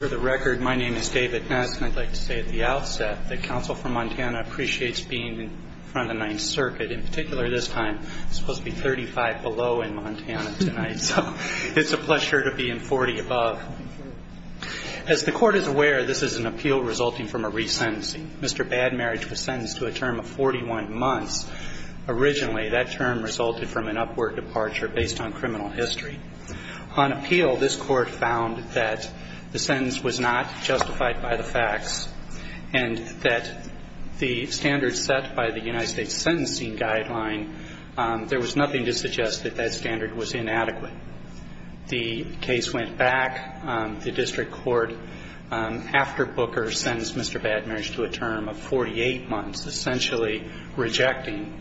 For the record, my name is David Ness, and I'd like to say at the outset that Council for Montana appreciates being in front of the Ninth Circuit. In particular, this time, we're supposed to be 35 below in Montana tonight, so it's a pleasure to be in 40 above. As the Court is aware, this is an appeal resulting from a resentencing. Mr. Bad Marriage was sentenced to a term of 41 months. Originally, that term resulted from an upward departure based on criminal history. On appeal, this Court found that the sentence was not justified by the facts and that the standards set by the United States Sentencing Guideline, there was nothing to suggest that that standard was inadequate. The case went back to district court after Booker sentenced Mr. Bad Marriage to a term of 48 months, essentially rejecting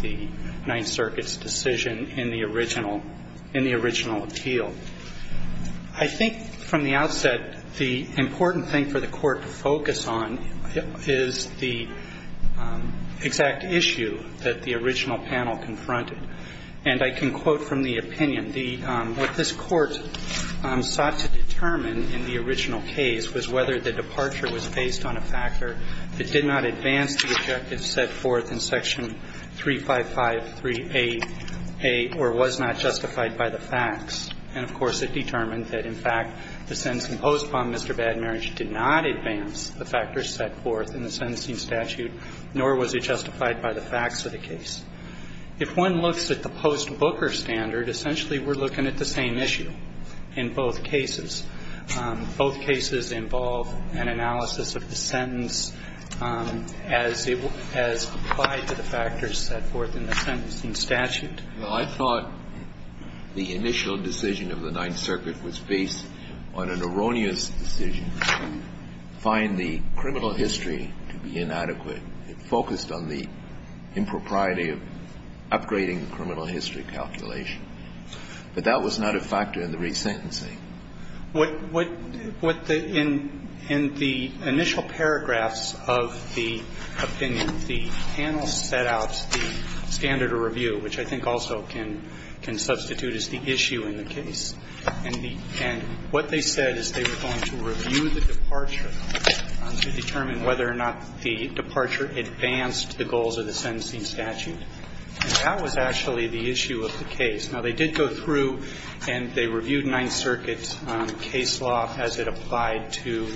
the Ninth Circuit's decision in the original appeal. I think from the outset, the important thing for the Court to focus on is the exact issue that the original panel confronted. And I can quote from the opinion. What this Court sought to determine in the original case was whether the departure was based on a factor that did not advance the objectives set forth in Section 35538A or was not justified by the facts. And, of course, it determined that, in fact, the sentencing post on Mr. Bad Marriage did not advance the factors set forth in the sentencing statute, nor was it justified by the facts of the case. If one looks at the post-Booker standard, essentially we're looking at the same issue in both cases. Both cases involve an analysis of the sentence as applied to the factors set forth in the sentencing statute. I thought the initial decision of the Ninth Circuit was based on an erroneous decision to find the criminal history to be inadequate. It focused on the impropriety of upgrading the criminal history calculation. But that was not a factor in the resentencing. In the initial paragraphs of the opinion, the panel set out the standard of review, which I think also can substitute as the issue in the case. And what they said is they were going to review the departure to determine whether or not the departure advanced the goals of the sentencing statute. And that was actually the issue of the case. Now, they did go through and they reviewed Ninth Circuit case law as it applied to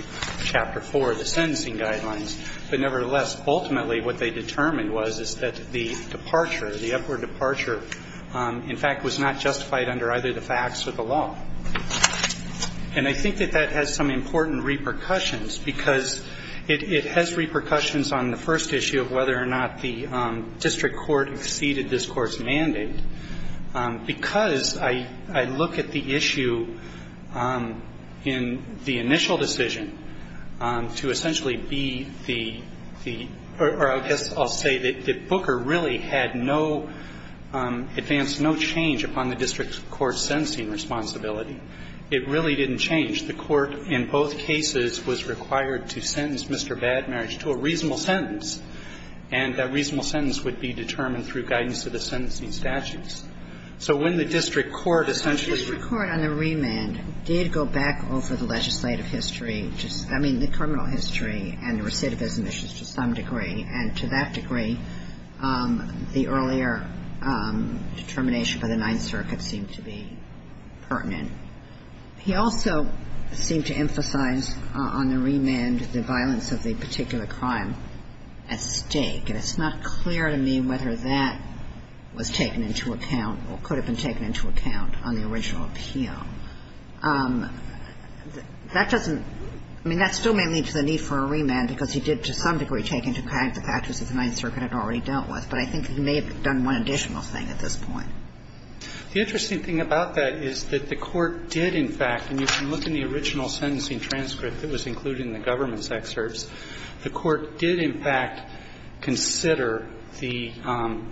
Chapter 4, the sentencing guidelines. But nevertheless, ultimately what they determined was is that the departure, the upward departure, in fact, was not justified under either the facts or the law. And I think that that has some important repercussions, because it has repercussions on the first issue of whether or not the district court exceeded this Court's mandate. Because I look at the issue in the initial decision to essentially be the or I guess I'll say that Booker really had no advance, no change upon the district court's sentencing responsibility. It really didn't change. The Court in both cases was required to sentence Mr. Badmerage to a reasonable sentence. And that reasonable sentence would be determined through guidance of the sentencing statutes. So when the district court essentially regards the district court on the remand did go back over the legislative history, I mean, the criminal history and recidivism issues to some degree, and to that degree, the earlier determination by the Ninth Circuit seemed to be pertinent. He also seemed to emphasize on the remand the violence of the particular crime. And I think that that's something that could have been taken into account on the original appeal at stake. And it's not clear to me whether that was taken into account or could have been taken into account on the original appeal. That doesn't – I mean, that still may lead to the need for a remand, because he did to some degree take into account the factors that the Ninth Circuit had already dealt with. But I think he may have done one additional thing at this point. The interesting thing about that is that the Court did in fact, and you can look in the original sentencing transcript that was included in the government's excerpts, the Court did in fact consider the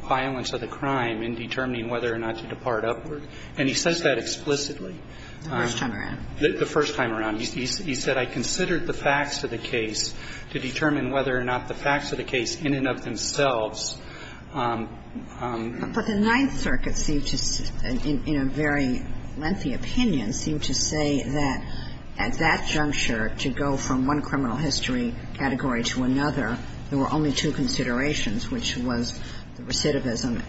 violence of the crime in determining whether or not to depart upward. And he says that explicitly. The first time around. The first time around. He said, I considered the facts of the case to determine whether or not the facts of the case in and of themselves. But the Ninth Circuit seemed to, in a very lengthy opinion, seemed to say that at that juncture, to go from one criminal history category to another, there were only two considerations, which was recidivism,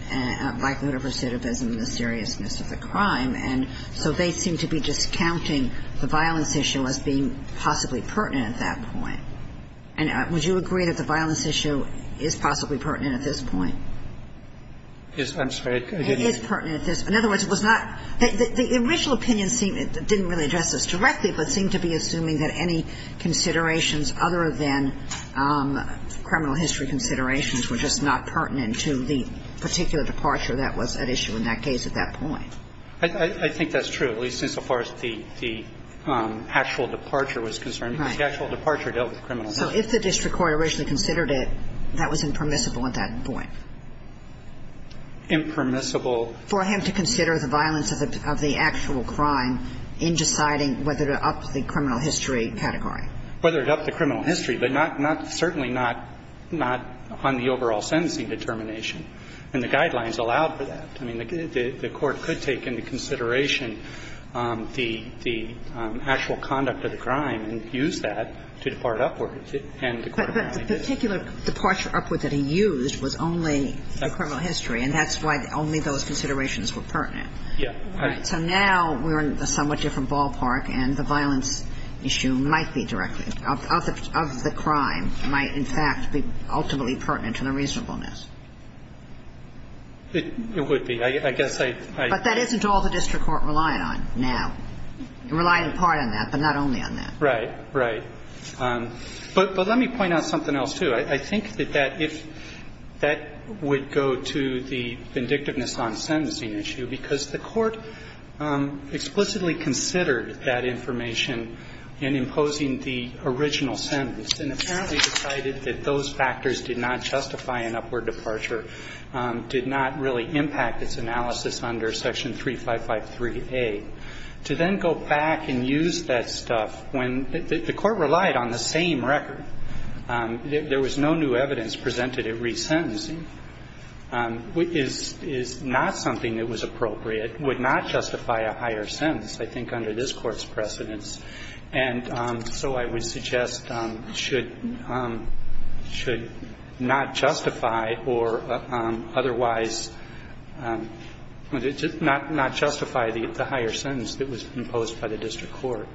likelihood of recidivism and the seriousness of the crime. And so they seem to be discounting the violence issue as being possibly pertinent at that point. And would you agree that the violence issue is possibly pertinent at this point? It is pertinent at this point. In other words, it was not the original opinion didn't really address this directly, but seemed to be assuming that any considerations other than criminal history considerations were just not pertinent to the particular departure that was at issue in that case at that point. I think that's true, at least as far as the actual departure was concerned. The actual departure dealt with criminal history. So if the district court originally considered it, that was impermissible at that point? Impermissible. For him to consider the violence of the actual crime in deciding whether to up the criminal history category. Whether to up the criminal history, but not, not, certainly not, not on the overall sentencing determination. And the guidelines allowed for that. I mean, the Court could take into consideration the actual conduct of the crime and use that to depart upwards. But the particular departure upward that he used was only the criminal history, and that's why only those considerations were pertinent. Yeah. So now we're in a somewhat different ballpark, and the violence issue might be directly of the crime, might in fact be ultimately pertinent to the reasonableness. It would be. I guess I. But that isn't all the district court relied on now. It relied in part on that, but not only on that. Right, right. But let me point out something else, too. I think that that, if that would go to the vindictiveness on sentencing issue, because the Court explicitly considered that information in imposing the original sentence, and apparently decided that those factors did not justify an upward departure, did not really impact its analysis under Section 3553A. To then go back and use that stuff when the Court relied on the same record, there was no new evidence presented at resentencing, is not something that was appropriate, would not justify a higher sentence, I think, under this Court's precedence. And so I would suggest should not justify or otherwise not justify the higher sentence that was imposed by the district court.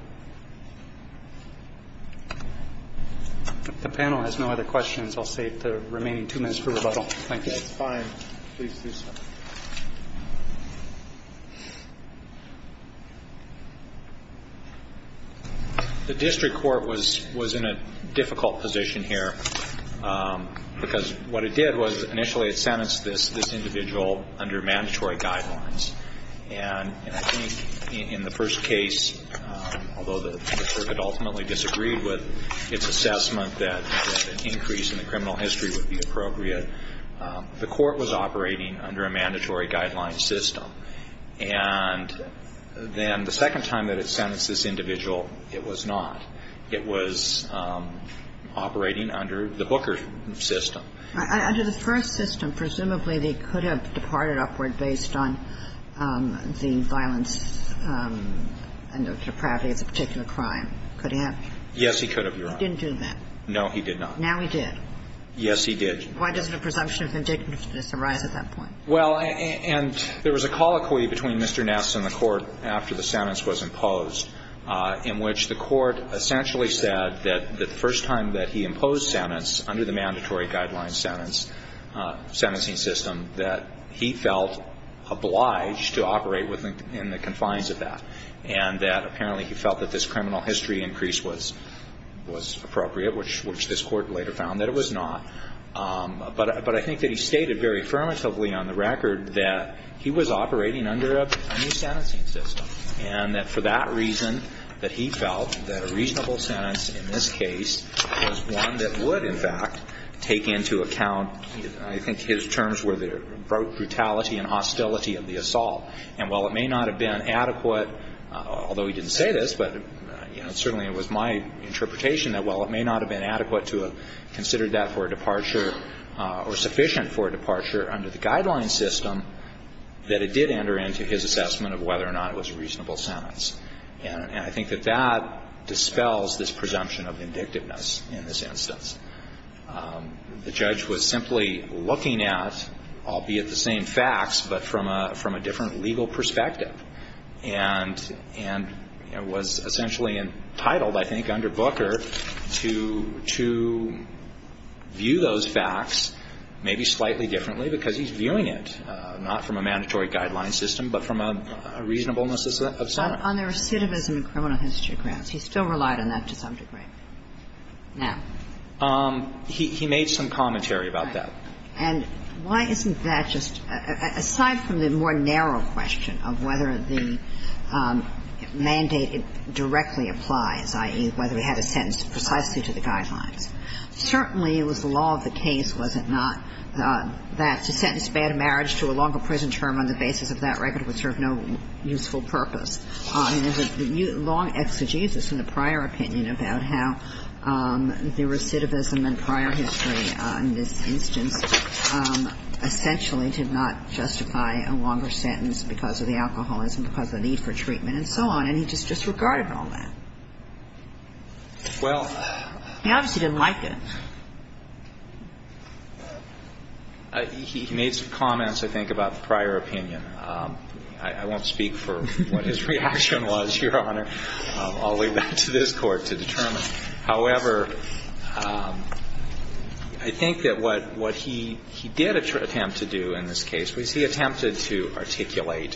If the panel has no other questions, I'll save the remaining two minutes for rebuttal. Thank you. That's fine. Please do so. The district court was in a difficult position here because what it did was initially it sentenced this individual under mandatory guidelines. And I think in the first case, although the district ultimately disagreed with its assessment that an increase in the criminal history would be appropriate, the Court was operating under a mandatory guideline system. And then the second time that it sentenced this individual, it was not. It was operating under the Booker system. Under the first system, presumably they could have departed upward based on the violence and the depravity of the particular crime. Could he have? Yes, he could have, Your Honor. He didn't do that. No, he did not. Now he did. Yes, he did. Why does the presumption of indignity arise at that point? Well, and there was a colloquy between Mr. Ness and the Court after the sentence was imposed in which the Court essentially said that the first time that he imposed a reasonable sentence under the mandatory guideline sentencing system, that he felt obliged to operate within the confines of that. And that apparently he felt that this criminal history increase was appropriate, which this Court later found that it was not. But I think that he stated very affirmatively on the record that he was operating under a new sentencing system and that for that reason that he felt that a reasonable sentence in this case was one that would, in fact, take into account, I think his terms were the brutality and hostility of the assault. And while it may not have been adequate, although he didn't say this, but certainly it was my interpretation that while it may not have been adequate to have considered that for a departure or sufficient for a departure under the guideline system, that it did enter into his assessment of whether or not it was a reasonable sentence. And I think that that dispels this presumption of vindictiveness in this instance. The judge was simply looking at, albeit the same facts, but from a different legal perspective, and was essentially entitled, I think, under Booker to view those facts maybe slightly differently because he's viewing it not from a mandatory guideline system, but from a reasonableness of some. On the recidivism in criminal history grounds, he still relied on that to some degree? No. He made some commentary about that. And why isn't that just, aside from the more narrow question of whether the mandate directly applies, i.e., whether we have a sentence precisely to the guidelines, certainly it was the law of the case, was it not, that to sentence bad marriage to a longer prison term on the basis of that record would serve no useful purpose? And there's a long exegesis in the prior opinion about how the recidivism in prior history in this instance essentially did not justify a longer sentence because of the alcoholism, because of the need for treatment and so on. And he just disregarded all that. He obviously didn't like it. He made some comments, I think, about the prior opinion. I won't speak for what his reaction was, Your Honor. I'll leave that to this Court to determine. However, I think that what he did attempt to do in this case was he attempted to articulate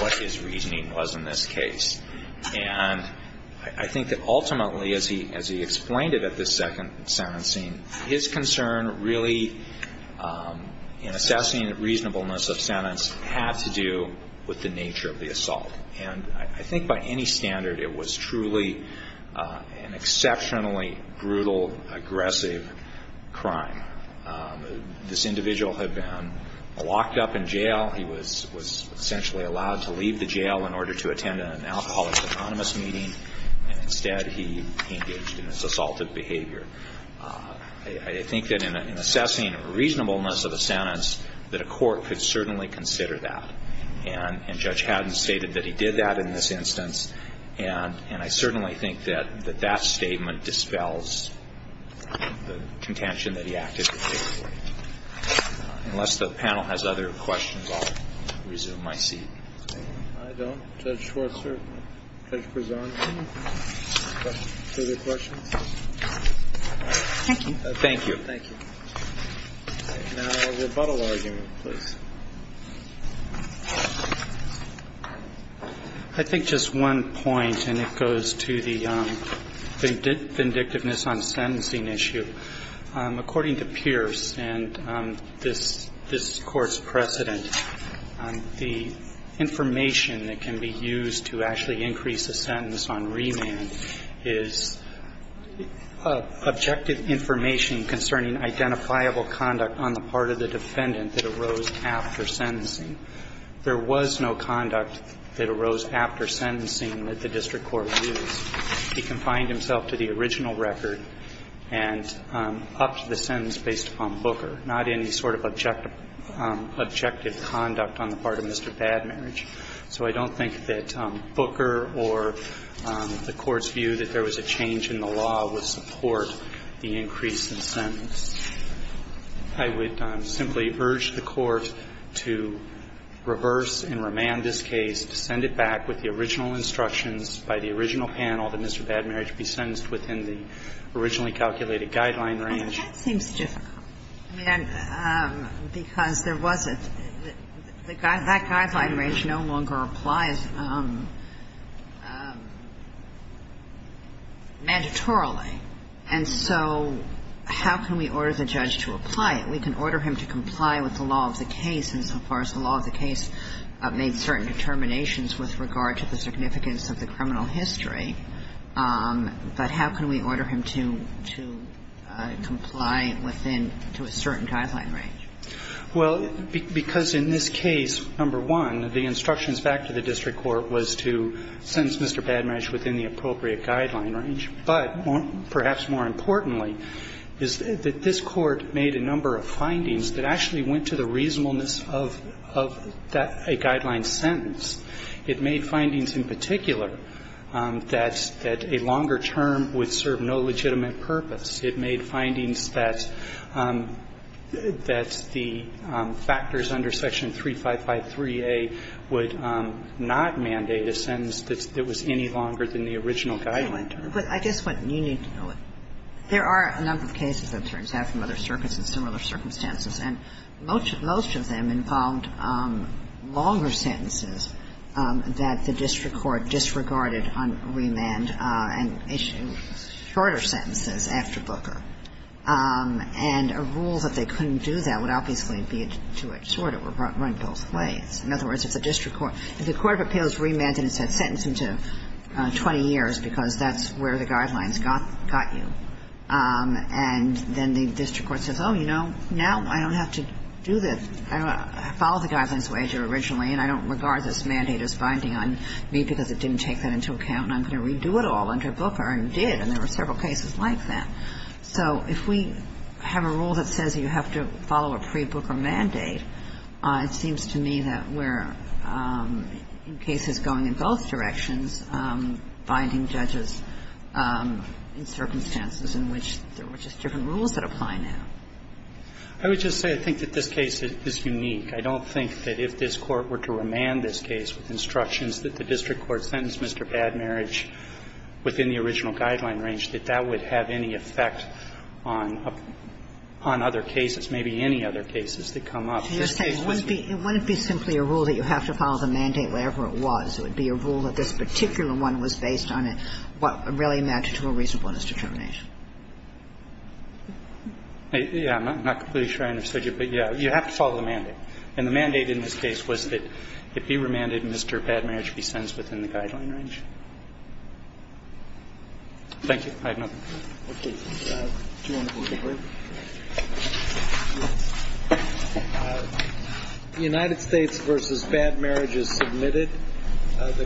what his reasoning was in this case. And I think that ultimately, as he explained it at the second sentencing, his concern really in assessing reasonableness of sentence had to do with the nature of the assault. And I think by any standard it was truly an exceptionally brutal, aggressive crime. This individual had been locked up in jail. He was essentially allowed to leave the jail in order to attend an alcoholist anonymous meeting. Instead, he engaged in this assaulted behavior. I think that in assessing reasonableness of a sentence, that a court could certainly consider that. And Judge Haddon stated that he did that in this instance. And I certainly think that that statement dispels the contention that he actively paid for it. Unless the panel has other questions, I'll resume my seat. I don't. Judge Schwartzer? Judge Prezant? Further questions? Thank you. Thank you. Thank you. Now, rebuttal argument, please. I think just one point, and it goes to the vindictiveness on the sentencing issue. According to Pierce and this Court's precedent, the information that can be used to actually increase a sentence on remand is objective information concerning identifiable conduct on the part of the defendant that arose after sentencing. There was no conduct that arose after sentencing that the district court used. He confined himself to the original record and upped the sentence based upon Booker, not any sort of objective conduct on the part of Mr. Badmarriage. So I don't think that Booker or the Court's view that there was a change in the law would support the increase in sentence. I would simply urge the Court to reverse and remand this case, to send it back with the original instructions by the original panel that Mr. Badmarriage be sentenced within the originally calculated guideline range. Well, that seems difficult, because there was a – that guideline range no longer applies mandatorily. And so how can we order the judge to apply it? We can order him to comply with the law of the case insofar as the law of the case made certain determinations with regard to the significance of the criminal history. But how can we order him to comply within – to a certain guideline range? Well, because in this case, number one, the instructions back to the district court was to sentence Mr. Badmarriage within the appropriate guideline range. But perhaps more importantly is that this Court made a number of findings that actually went to the reasonableness of that guideline sentence. It made findings in particular that a longer term would serve no legitimate purpose. It made findings that the factors under Section 3553A would not mandate a sentence that was any longer than the original guideline term. But I just want you to know it. There are a number of cases, it turns out, from other circuits in similar circumstances, and most of them involved longer sentences that the district court disregarded on remand and shorter sentences after Booker. And a rule that they couldn't do that would obviously be a two-inch sword. It would run both ways. In other words, if the district court – if the court of appeals remanded 20 years because that's where the guidelines got you, and then the district court says, oh, you know, now I don't have to do this, follow the guidelines wager originally, and I don't regard this mandate as binding on me because it didn't take that into account, and I'm going to redo it all under Booker, and it did, and there were several cases like that. So if we have a rule that says you have to follow a pre-Booker mandate, it seems to me that we're, in cases going in both directions, binding judges in circumstances in which there were just different rules that apply now. I would just say I think that this case is unique. I don't think that if this Court were to remand this case with instructions that the district court sentenced Mr. Badmarriage within the original guideline range, that that would have any effect on other cases, maybe any other cases that come up. It wouldn't be simply a rule that you have to follow the mandate wherever it was. It would be a rule that this particular one was based on what really matched to a reasonableness determination. Yeah, I'm not completely sure I understood you, but, yeah, you have to follow the mandate. And the mandate in this case was that if you remanded, Mr. Badmarriage be sentenced within the guideline range. Thank you. I have nothing. Okay. Do you want to go forward? Yes. United States versus Badmarriage is submitted.